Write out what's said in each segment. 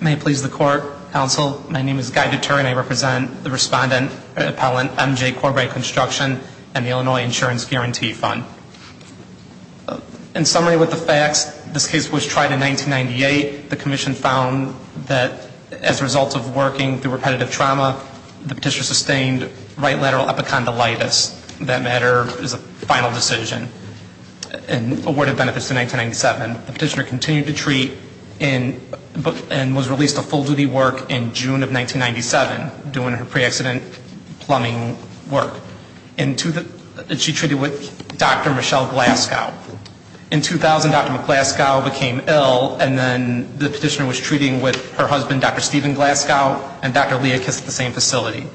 May it please the Court, Counsel, my name is Guy Dutour and I represent the Respondent Appellant M.J. Corboy Construction and the Illinois Insurance Guarantee Fund. In summary with the facts, this case was tried in 1998. The Commission found that as a result of working through repetitive trauma, the petitioner sustained right lateral epicondylitis, that matter is a final decision, and awarded benefits in 1997. The petitioner continued to treat and was released to full duty work in June of 1997, doing her pre-accident plumbing work. She treated with Dr. Michelle Glasgow. In 2000, Dr. Glasgow became ill and then the petitioner was treating with her husband, Dr. Stephen Glasgow, and Dr. Leah Kiss at the same facility.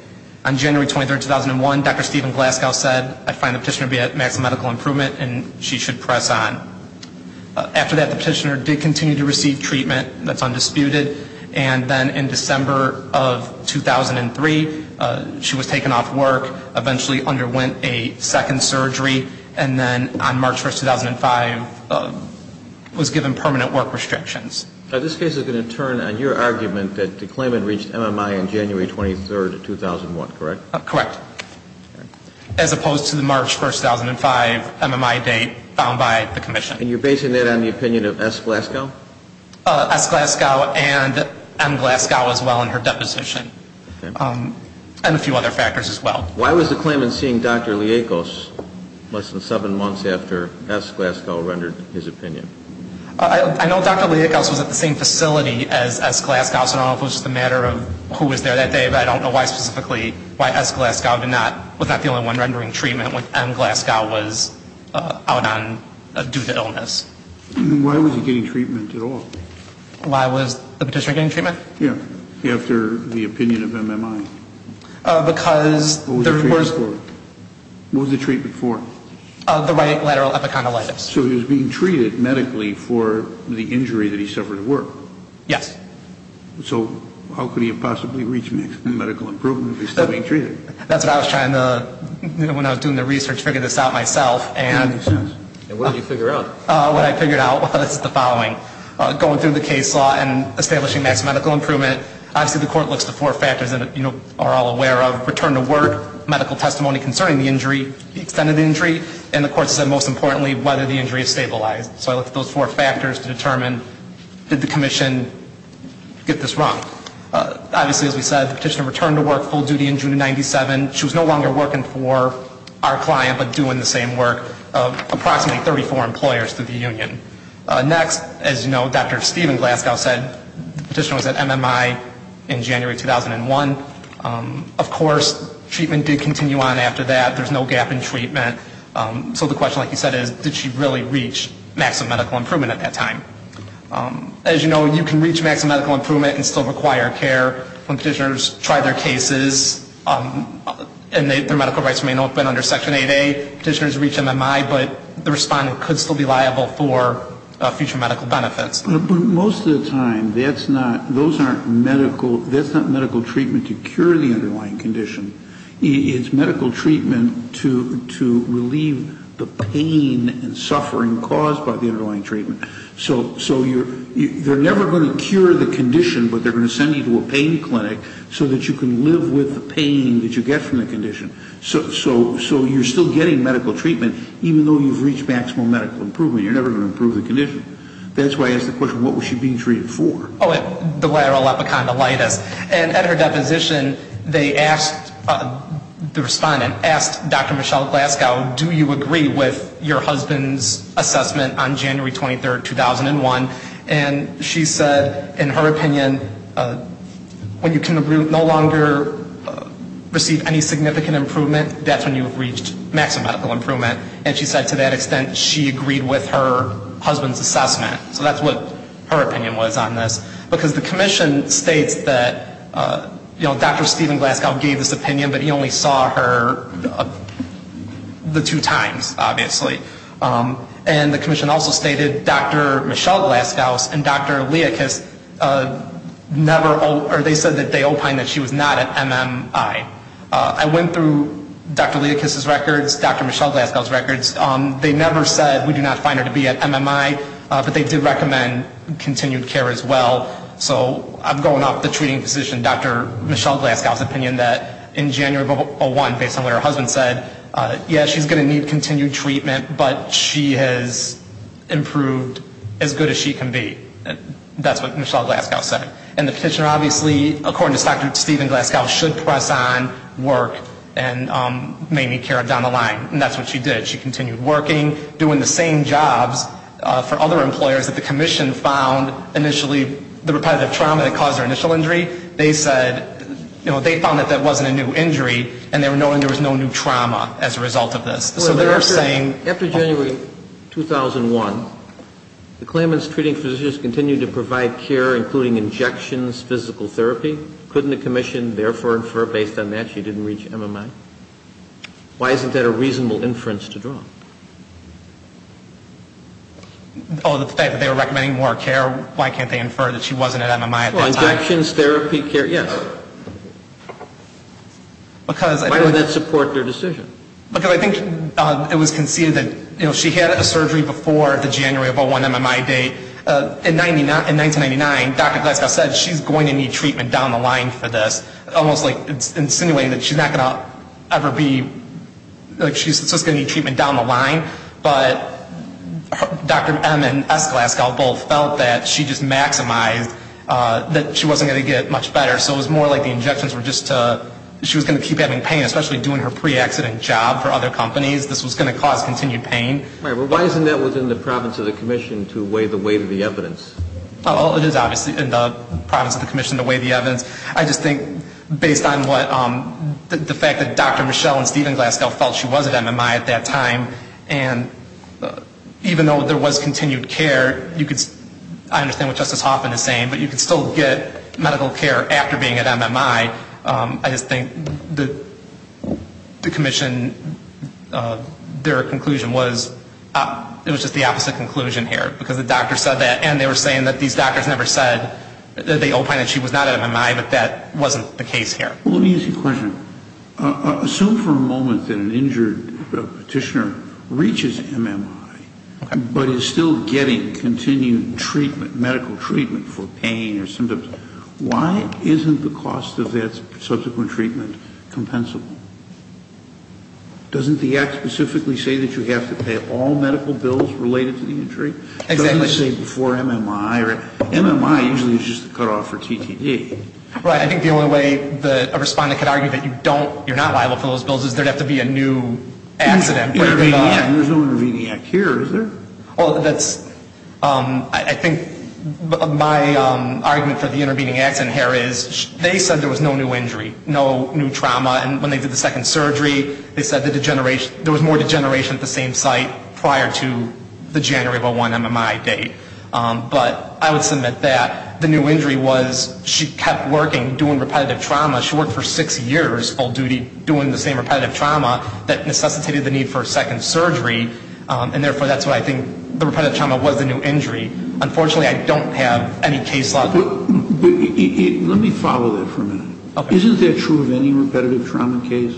On January 23, 2001, Dr. Stephen Glasgow said, I find the petitioner to be at maximum medical improvement and she should press on. After that, the petitioner did continue to receive treatment, that's undisputed, and then in December of 2003, she was taken off work, eventually underwent a second surgery, and then on March 1, 2005, was given permanent work restrictions. Now this case is going to turn on your argument that the claimant reached MMI on January 23, 2001, correct? Correct. As opposed to the March 1, 2005 MMI date found by the commission. And you're basing that on the opinion of S. Glasgow? S. Glasgow and M. Glasgow as well in her deposition. Okay. And a few other factors as well. Why was the claimant seeing Dr. Leah Kiss less than seven months after S. Glasgow rendered his opinion? I know Dr. Leah Kiss was at the same facility as S. Glasgow, so I don't know if it was just a matter of who was there that day, but I don't know why specifically why S. Glasgow was not the only one rendering treatment when M. Glasgow was out on due to illness. Why was he getting treatment at all? Why was the petitioner getting treatment? Yeah. After the opinion of MMI. Because there was... What was the treatment for? What was the treatment for? The right lateral epicondylitis. So he was being treated medically for the injury that he suffered at work? Yes. So how could he have possibly reached medical improvement if he was still being treated? That's what I was trying to, when I was doing the research, figure this out myself. And what did you figure out? What I figured out was the following. Going through the case law and establishing maximum medical improvement, obviously the court looks to four factors that you are all aware of. Return to work, medical testimony concerning the injury, the extended injury. And the court said, most importantly, whether the injury is stabilized. So I looked at those four factors to determine did the commission get this wrong? Obviously, as we said, the petitioner returned to work full duty in June of 97. She was no longer working for our client, but doing the same work of approximately 34 employers through the union. Next, as you know, Dr. Stephen Glasgow said the petitioner was at MMI in January 2001. Of course, treatment did continue on after that. There's no gap in treatment. So the question, like you said, is did she really reach maximum medical improvement at that time? As you know, you can reach maximum medical improvement and still require care when petitioners try their cases and their medical rights remain open under Section 8A. Petitioners reach MMI, but the respondent could still be liable for future medical benefits. But most of the time, that's not, those aren't medical, that's not medical treatment to cure the underlying condition. It's medical treatment to relieve the pain and suffering caused by the underlying treatment. So you're, they're never going to cure the condition, but they're going to send you to a pain clinic so that you can live with the pain that you get from the condition. So you're still getting medical treatment, even though you've reached maximum medical improvement. You're never going to improve the condition. That's why I asked the question, what was she being treated for? Oh, the lateral epicondylitis. And at her deposition, they asked, the respondent asked Dr. Michelle Glasgow, do you agree with your husband's assessment on January 23, 2001? And she said, in her opinion, when you can no longer receive any significant improvement, that's when you've reached maximum medical improvement. And she said to that extent, she agreed with her husband's assessment. So that's what her opinion was on this. Because the commission states that, you know, Dr. Stephen Glasgow gave this opinion, but he only saw her the two times, obviously. And the commission also stated Dr. Michelle Glasgow and Dr. Leakis never, or they said that they opined that she was not at MMI. I went through Dr. Leakis's records, Dr. Michelle Glasgow's records. They never said we do not find her to be at MMI, but they did recommend continued care as well. So I'm going off the treating physician, Dr. Michelle Glasgow's opinion that in January of 2001, based on what her husband said, yeah, she's going to need continued treatment, but she has improved as good as she can be. That's what Michelle Glasgow said. And the petitioner obviously, according to Dr. Stephen Glasgow, should press on, work, and may need care down the line. And that's what she did. She continued working, doing the same jobs for other employers that the commission found initially, the repetitive trauma that caused her initial injury. They said, you know, they found that that wasn't a new injury, and they were knowing there was no new trauma as a result of this. So they were saying. After January 2001, the claimants treating physicians continued to provide care, including injections, physical therapy. Couldn't the commission therefore infer based on that she didn't reach MMI? Why isn't that a reasonable inference to draw? Oh, the fact that they were recommending more care, why can't they infer that she wasn't at MMI at the time? Well, injections, therapy, care, yes. Why would that support their decision? Because I think it was conceded that, you know, she had a surgery before the January of 2001 MMI date. In 1999, Dr. Glasgow said she's going to need treatment down the line for this, almost like insinuating that she's not going to ever be, like she's just going to need treatment down the line. But Dr. M. and S. Glasgow both felt that she just maximized, that she wasn't going to get much better. So it was more like the injections were just to, she was going to keep having pain, especially doing her pre-accident job for other companies. This was going to cause continued pain. Why isn't that within the province of the commission to weigh the weight of the evidence? It is obviously in the province of the commission to weigh the evidence. I just think, based on what, the fact that Dr. Michelle and Stephen Glasgow felt she was at MMI at that time, and even though there was continued care, you could, I understand what Justice Hoffman is saying, but you could still get medical care after being at MMI. I just think the commission, their conclusion was, it was just the opposite conclusion here. Because the doctor said that, and they were saying that these doctors never said that they opined that she was not at MMI, but that wasn't the case here. Let me ask you a question. Assume for a moment that an injured petitioner reaches MMI, but is still getting continued treatment, medical treatment for pain or symptoms. Why isn't the cost of that subsequent treatment compensable? Doesn't the act specifically say that you have to pay all medical bills related to the injury? It doesn't say before MMI. MMI usually is just the cutoff for TTD. Right. I think the only way a respondent could argue that you're not liable for those bills is there would have to be a new accident. Intervening act. There's no intervening act here, is there? I think my argument for the intervening act here is, they said there was no new injury, no new trauma, and when they did the second surgery, they said there was more degeneration at the same site prior to the January of 01 MMI date. But I would submit that the new injury was she kept working, doing repetitive trauma. She worked for six years full duty doing the same repetitive trauma that necessitated the need for a second surgery, and therefore that's what I think the repetitive trauma was the new injury. Unfortunately, I don't have any case law. Let me follow that for a minute. Okay. Isn't that true of any repetitive trauma case?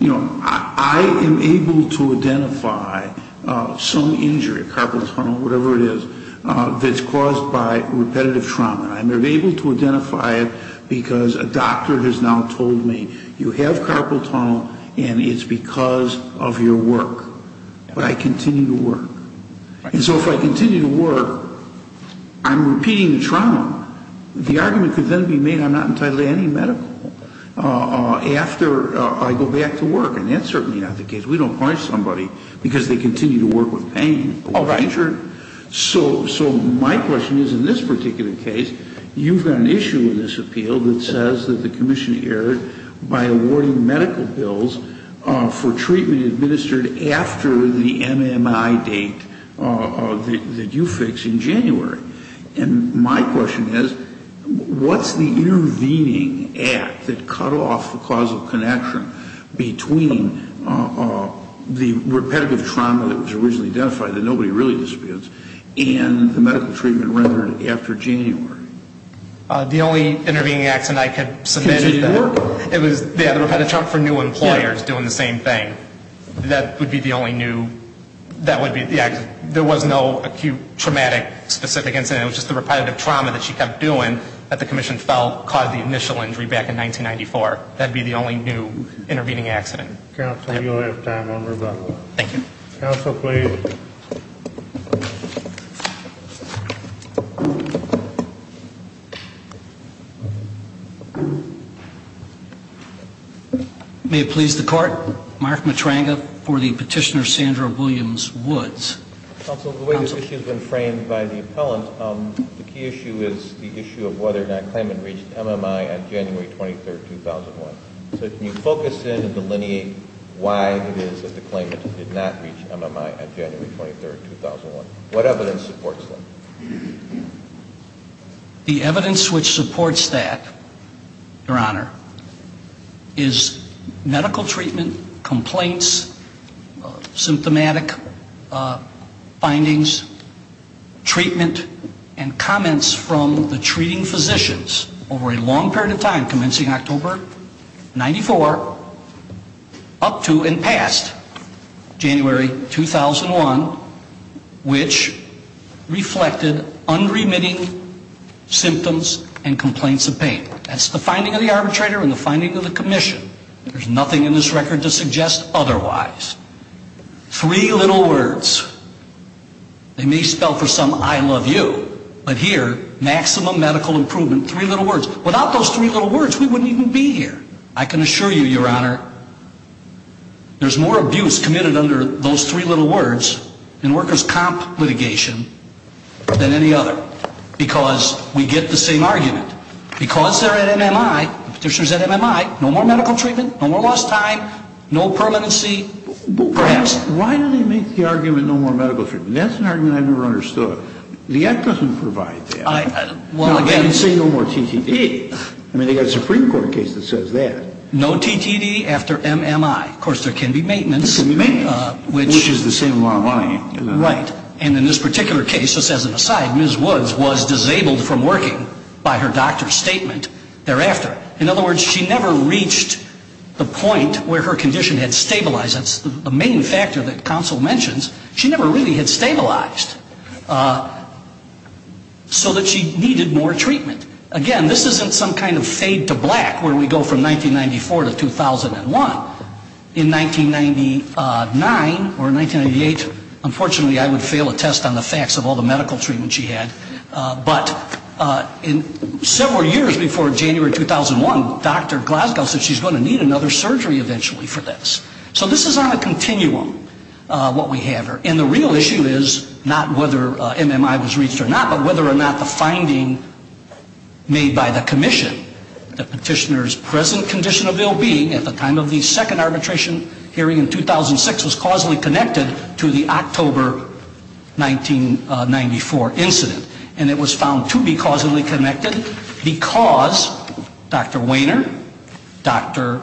You know, I am able to identify some injury, carpal tunnel, whatever it is, that's caused by repetitive trauma. I'm able to identify it because a doctor has now told me you have carpal tunnel and it's because of your work. But I continue to work. And so if I continue to work, I'm repeating the trauma. The argument could then be made I'm not entitled to any medical after I go back to work, and that's certainly not the case. We don't punish somebody because they continue to work with pain. Oh, right. So my question is in this particular case, you've got an issue in this appeal that says that the commission erred by awarding medical bills for treatment administered after the MMI date that you fix in January. And my question is, what's the intervening act that cut off the causal connection between the repetitive trauma that was originally identified that nobody really disputes and the medical treatment rendered after January? The only intervening act that I could submit is that it was repetitive trauma for new employers doing the same thing. That would be the only new, that would be the, there was no acute traumatic specific incident. It was just the repetitive trauma that she kept doing that the commission felt caused the initial injury back in 1994. That would be the only new intervening accident. Counsel, you'll have time on rebuttal. Thank you. Counsel, please. May it please the court, Mark Matranga for the petitioner Sandra Williams-Woods. Counsel, the way this issue has been framed by the appellant, the key issue is the issue of whether or not the claimant reached MMI on January 23rd, 2001. So can you focus in and delineate why it is that the claimant did not reach MMI on January 23rd, 2001? What evidence supports that? The evidence which supports that, Your Honor, is medical treatment, complaints, symptomatic findings, treatment and comments from the treating physicians over a long period of time, commencing October 94, up to and past January 2001, which reflected unremitting symptoms and complaints of pain. That's the finding of the arbitrator and the finding of the commission. There's nothing in this record to suggest otherwise. Three little words. They may spell for some I love you, but here, maximum medical improvement. Three little words. Without those three little words, we wouldn't even be here. I can assure you, Your Honor, there's more abuse committed under those three little words in workers' comp litigation than any other, because we get the same argument. Because they're at MMI, the petitioner's at MMI, no more medical treatment, no more lost time, no permanency, perhaps. Why do they make the argument no more medical treatment? That's an argument I've never understood. The app doesn't provide that. They don't say no more TTP. I mean, they've got a Supreme Court case that says that. No TTP after MMI. Of course, there can be maintenance. There can be maintenance, which is the same amount of money. Right. And in this particular case, just as an aside, Ms. Woods was disabled from working by her doctor's statement thereafter. In other words, she never reached the point where her condition had stabilized. That's the main factor that counsel mentions. She never really had stabilized so that she needed more treatment. Again, this isn't some kind of fade to black where we go from 1994 to 2001. In 1999 or 1998, unfortunately, I would fail a test on the facts of all the medical treatment she had. But in several years before January 2001, Dr. Glasgow said she's going to need another surgery eventually for this. So this is on a continuum, what we have here. And the real issue is not whether MMI was reached or not, but whether or not the finding made by the commission, the petitioner's present condition of ill-being at the time of the second arbitration hearing in 2006, was causally connected to the October 1994 incident. And it was found to be causally connected because Dr. Wehner, Dr.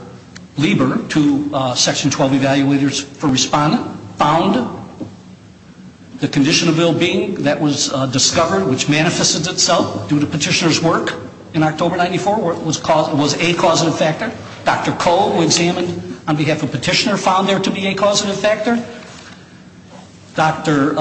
Lieber, two Section 12 evaluators for respondent, found the condition of ill-being that was discovered, which manifested itself due to petitioner's work in October 1994, was a causative factor. Dr. Cole, who examined on behalf of petitioner, found there to be a causative factor. Dr.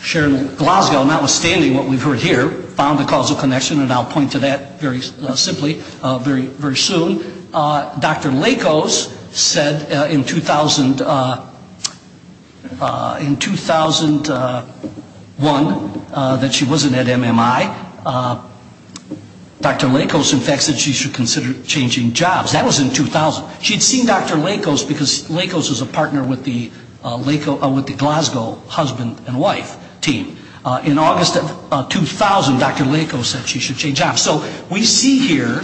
Sharon Glasgow, notwithstanding what we've heard here, found a causal connection, and I'll point to that very simply very soon. Dr. Lakos said in 2001 that she wasn't at MMI. Dr. Lakos, in fact, said she should consider changing jobs. That was in 2000. She'd seen Dr. Lakos because Lakos was a partner with the Glasgow husband and wife team. In August of 2000, Dr. Lakos said she should change jobs. So we see here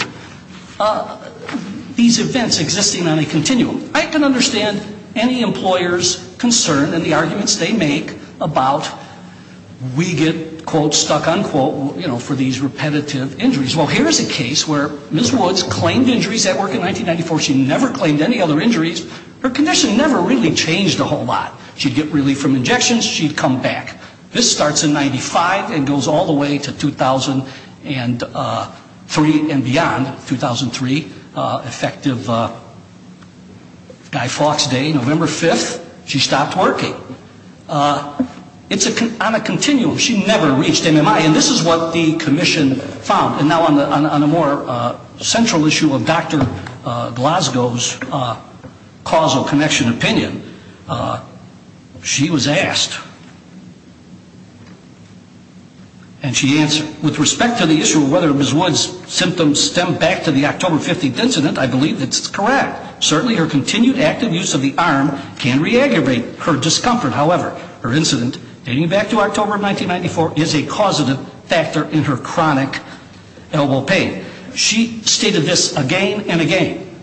these events existing on a continuum. I can understand any employer's concern and the arguments they make about we get, quote, stuck, unquote, you know, for these repetitive injuries. Well, here is a case where Ms. Woods claimed injuries at work in 1994. She never claimed any other injuries. Her condition never really changed a whole lot. She'd get relief from injections. She'd come back. This starts in 95 and goes all the way to 2003 and beyond, 2003, effective Guy Fawkes Day, November 5th. She stopped working. It's on a continuum. She never reached MMI. And this is what the commission found. And now on a more central issue of Dr. Glasgow's causal connection opinion, she was asked, and she answered, with respect to the issue of whether Ms. Woods' symptoms stem back to the October 15th incident, I believe it's correct. Certainly her continued active use of the arm can re-aggravate her discomfort. However, her incident dating back to October of 1994 is a causative factor in her chronic elbow pain. She stated this again and again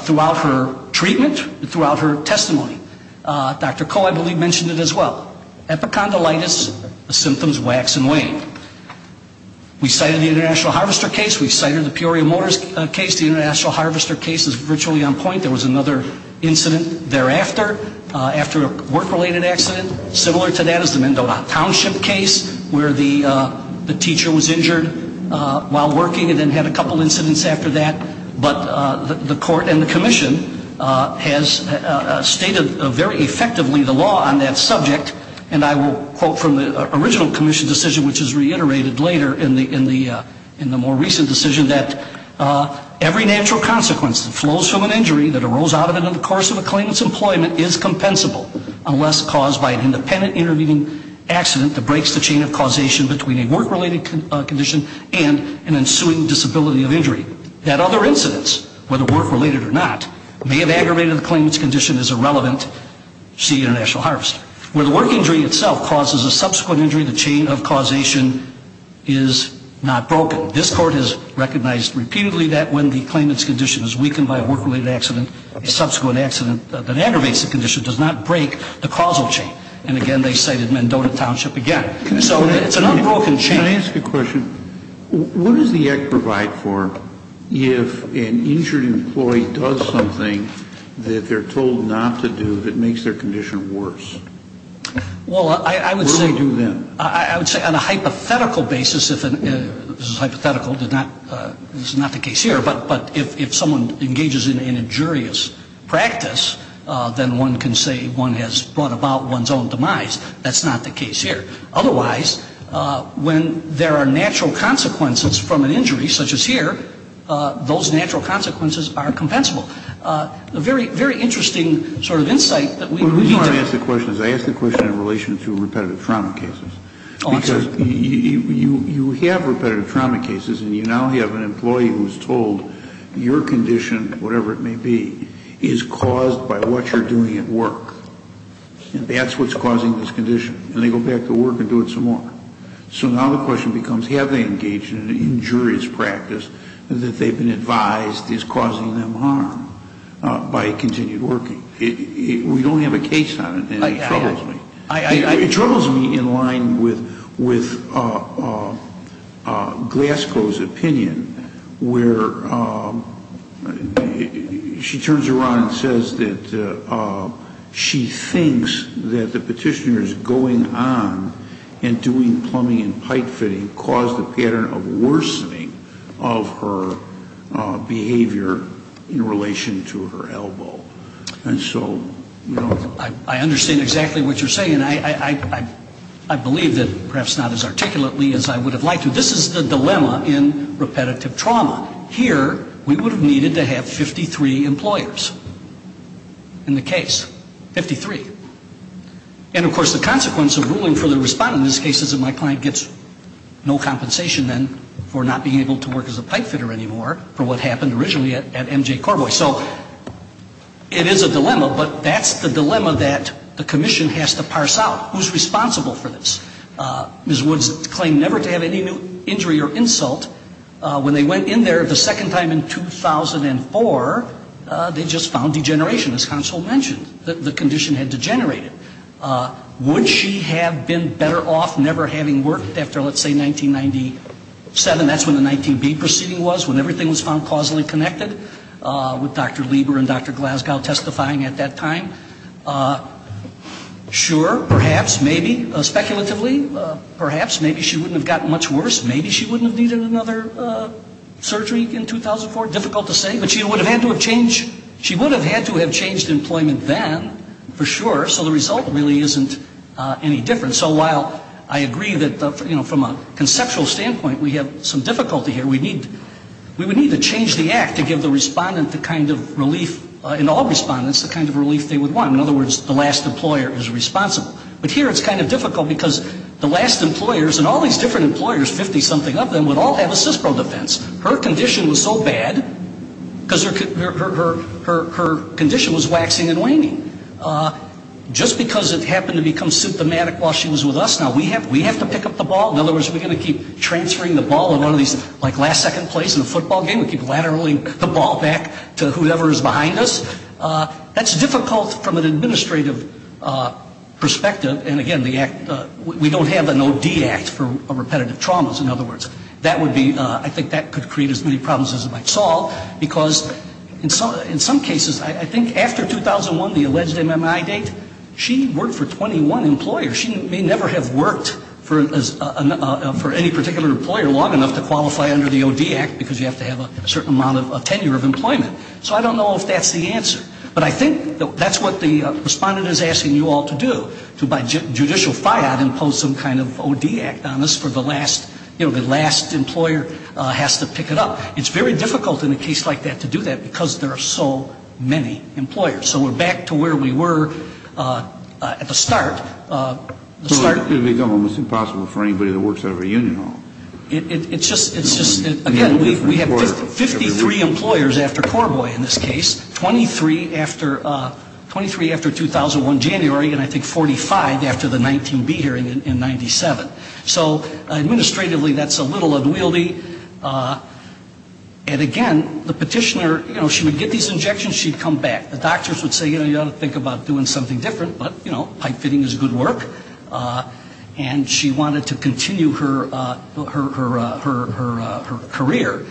throughout her treatment and throughout her testimony. Dr. Koh, I believe, mentioned it as well. Epicondylitis, the symptoms wax and wane. We cited the International Harvester case. We cited the Peoria Motors case. The International Harvester case is virtually on point. There was another incident thereafter. After a work-related accident, similar to that is the Mendona Township case where the teacher was injured while working and then had a couple incidents after that. But the court and the commission has stated very effectively the law on that subject. And I will quote from the original commission decision, which is reiterated later in the more recent decision, that every natural consequence that flows from an injury that arose out of it in the course of a claimant's employment is compensable unless caused by an independent intervening accident that breaks the chain of causation between a work-related condition and an ensuing disability of injury. That other incidence, whether work-related or not, may have aggravated the claimant's condition as irrelevant, see International Harvester. Where the work injury itself causes a subsequent injury, the chain of causation is not broken. So this court has recognized repeatedly that when the claimant's condition is weakened by a work-related accident, a subsequent accident that aggravates the condition does not break the causal chain. And again, they cited Mendona Township again. So it's an unbroken chain. Can I ask a question? What does the act provide for if an injured employee does something that they're told not to do that makes their condition worse? Well, I would say on a hypothetical basis, this is hypothetical, this is not the case here, but if someone engages in injurious practice, then one can say one has brought about one's own demise. That's not the case here. Otherwise, when there are natural consequences from an injury such as here, those natural consequences are compensable. A very, very interesting sort of insight that we need to have. The reason I ask the question is I ask the question in relation to repetitive trauma cases. Because you have repetitive trauma cases and you now have an employee who's told your condition, whatever it may be, is caused by what you're doing at work. And that's what's causing this condition. And they go back to work and do it some more. So now the question becomes have they engaged in an injurious practice that they've been advised is causing them harm by continued working? We don't have a case on it, and it troubles me. It troubles me in line with Glasgow's opinion where she turns around and says that she thinks that the petitioner's going on and doing plumbing and pipe fitting caused a pattern of worsening of her behavior in relation to her elbow. And so, you know, I understand exactly what you're saying. And I believe that perhaps not as articulately as I would have liked to. This is the dilemma in repetitive trauma. Here we would have needed to have 53 employers in the case, 53. And, of course, the consequence of ruling for the respondent in this case is that my client gets no compensation then for not being able to work as a pipe fitter anymore for what happened originally at MJ Corboy. So it is a dilemma, but that's the dilemma that the commission has to parse out. Who's responsible for this? Ms. Woods claimed never to have any injury or insult. When they went in there the second time in 2004, they just found degeneration, as counsel mentioned. The condition had degenerated. Would she have been better off never having worked after, let's say, 1997? That's when the 19B proceeding was, when everything was found causally connected? With Dr. Lieber and Dr. Glasgow testifying at that time? Sure, perhaps, maybe. Speculatively, perhaps. Maybe she wouldn't have gotten much worse. Maybe she wouldn't have needed another surgery in 2004. Difficult to say. But she would have had to have changed employment then, for sure. So the result really isn't any different. So while I agree that, you know, from a conceptual standpoint, we have some difficulty here. We need to change the act to give the respondent the kind of relief, in all respondents, the kind of relief they would want. In other words, the last employer is responsible. But here it's kind of difficult because the last employers, and all these different employers, 50-something of them, would all have a CISPRO defense. Her condition was so bad because her condition was waxing and waning. Just because it happened to become symptomatic while she was with us, now we have to pick up the ball? In other words, are we going to keep transferring the ball in one of these, like, last second plays in a football game? We keep lateraling the ball back to whoever is behind us? That's difficult from an administrative perspective. And, again, we don't have an OD act for repetitive traumas, in other words. I think that could create as many problems as it might solve. Because in some cases, I think after 2001, the alleged MMI date, she worked for 21 employers. She may never have worked for any particular employer long enough to qualify under the OD act because you have to have a certain amount of tenure of employment. So I don't know if that's the answer. But I think that's what the respondent is asking you all to do, to by judicial fiat impose some kind of OD act on us for the last, you know, the last employer has to pick it up. It's very difficult in a case like that to do that because there are so many employers. So we're back to where we were at the start. It's impossible for anybody that works out of a union home. It's just, again, we have 53 employers after Corboy in this case, 23 after 2001 January, and I think 45 after the 19B hearing in 97. So, administratively, that's a little unwieldy. And, again, the petitioner, you know, she would get these injections, she'd come back. The doctors would say, you know, you ought to think about doing something different. But, you know, pipe fitting is good work. And she wanted to continue her career.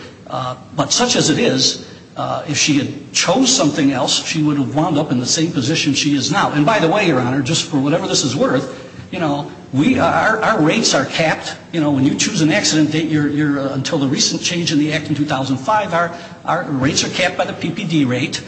But such as it is, if she had chose something else, she would have wound up in the same position she is now. And, by the way, Your Honor, just for whatever this is worth, you know, our rates are capped. You know, when you choose an accident date, until the recent change in the act in 2005, our rates are capped by the PPD rate.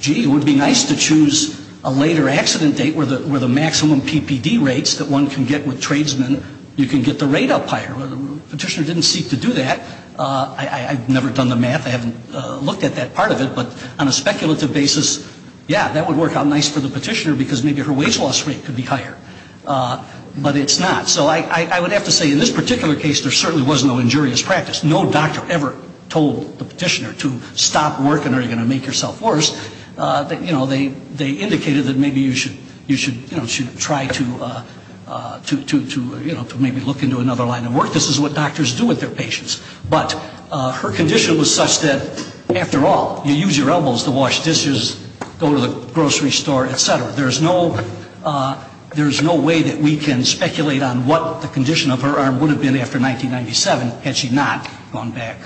Gee, it would be nice to choose a later accident date where the maximum PPD rates that one can get with tradesmen, you can get the rate up higher. The petitioner didn't seek to do that. I've never done the math. I haven't looked at that part of it. But on a speculative basis, yeah, that would work out nice for the petitioner because maybe her wage loss rate could be higher. But it's not. So I would have to say in this particular case, there certainly was no injurious practice. No doctor ever told the petitioner to stop working or you're going to make yourself worse. You know, they indicated that maybe you should try to maybe look into another line of work. This is what doctors do with their patients. But her condition was such that, after all, you use your elbows to wash dishes, go to the grocery store, et cetera. There is no way that we can speculate on what the condition of her arm would have been after 1997 had she not gone back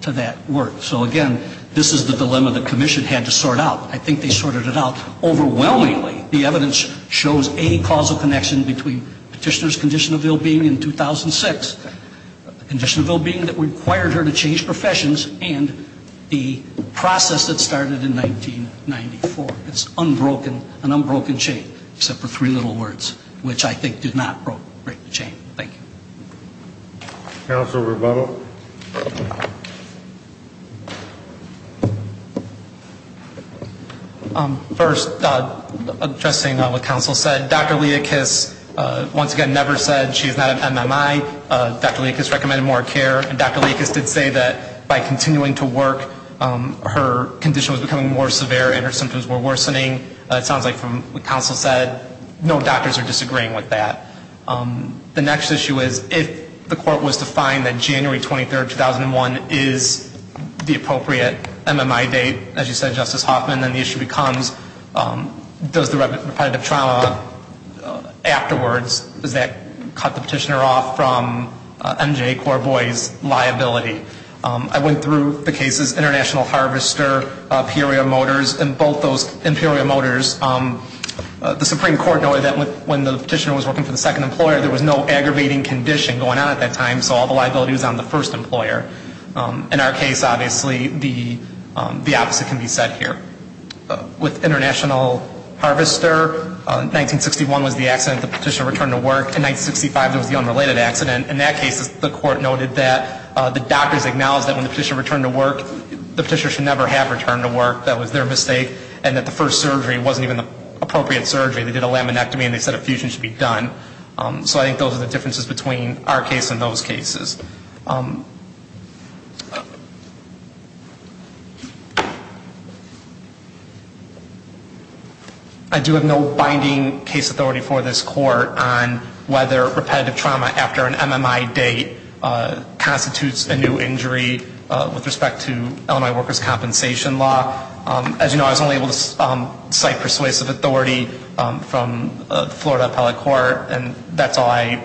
to that work. So, again, this is the dilemma the commission had to sort out. I think they sorted it out. Overwhelmingly, the evidence shows a causal connection between petitioner's condition of ill-being in 2006, the condition of ill-being that required her to change professions, and the process that started in 1994. It's unbroken, an unbroken chain, except for three little words, which I think did not break the chain. Thank you. Council, rebuttal. First, addressing what Council said, Dr. Leakis once again never said she is not an MMI. Dr. Leakis recommended more care, and Dr. Leakis did say that by continuing to work, her condition was becoming more severe and her symptoms were worsening. It sounds like, from what Council said, no doctors are disagreeing with that. The next issue is if the court was to find that January 23, 2001 is the appropriate MMI date, as you said, Justice Hoffman, then the issue becomes does the repetitive trauma afterwards, does that cut the petitioner off from MJ Corboy's liability? I went through the cases International Harvester, Imperial Motors, and both those Imperial Motors, the Supreme Court noted that when the petitioner was working for the second employer, there was no aggravating condition going on at that time, so all the liability was on the first employer. In our case, obviously, the opposite can be said here. With International Harvester, 1961 was the accident, the petitioner returned to work. In 1965, there was the unrelated accident. In that case, the court noted that the doctors acknowledged that when the petitioner returned to work, the petitioner should never have returned to work. That was their mistake, and that the first surgery wasn't even the appropriate surgery. They did a laminectomy, and they said a fusion should be done. So I think those are the differences between our case and those cases. I do have no binding case authority for this court on whether repetitive trauma after an MMI date constitutes a new injury with respect to Illinois Workers' Compensation Law. As you know, I was only able to cite persuasive authority from the Florida Appellate Court, and that's all I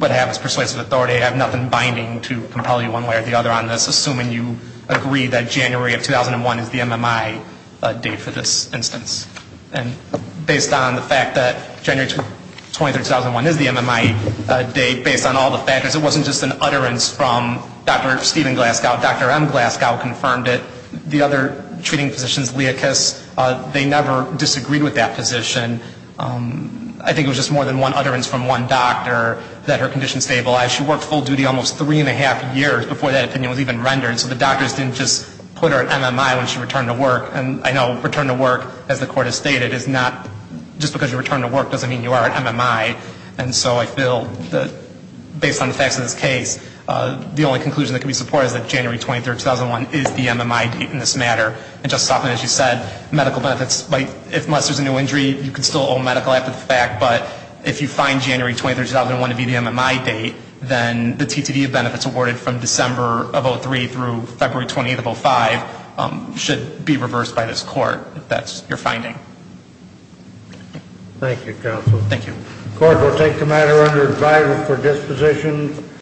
would have as persuasive authority. I have nothing binding to compel you one way or the other on this, assuming you agree that January of 2001 is the MMI date for this instance. And based on the fact that January 23, 2001 is the MMI date, based on all the factors, it wasn't just an utterance from Dr. Stephen Glasgow. Dr. M. Glasgow confirmed it. The other treating physicians, Leakes, they never disagreed with that position. I think it was just more than one utterance from one doctor that her condition stabilized. She worked full duty almost three and a half years before that opinion was even rendered, so the doctors didn't just put her at MMI when she returned to work. And I know return to work, as the court has stated, is not just because you return to work doesn't mean you are at MMI. And so I feel that based on the facts of this case, the only conclusion that can be supported is that January 23, 2001 is the MMI date in this matter. And, Justice Hoffman, as you said, medical benefits, unless there's a new injury, you can still owe medical help with the fact. But if you find January 23, 2001 to be the MMI date, then the TTD of benefits awarded from December of 2003 through February 28 of 2005 should be reversed by this court, if that's your finding. Thank you, counsel. Thank you.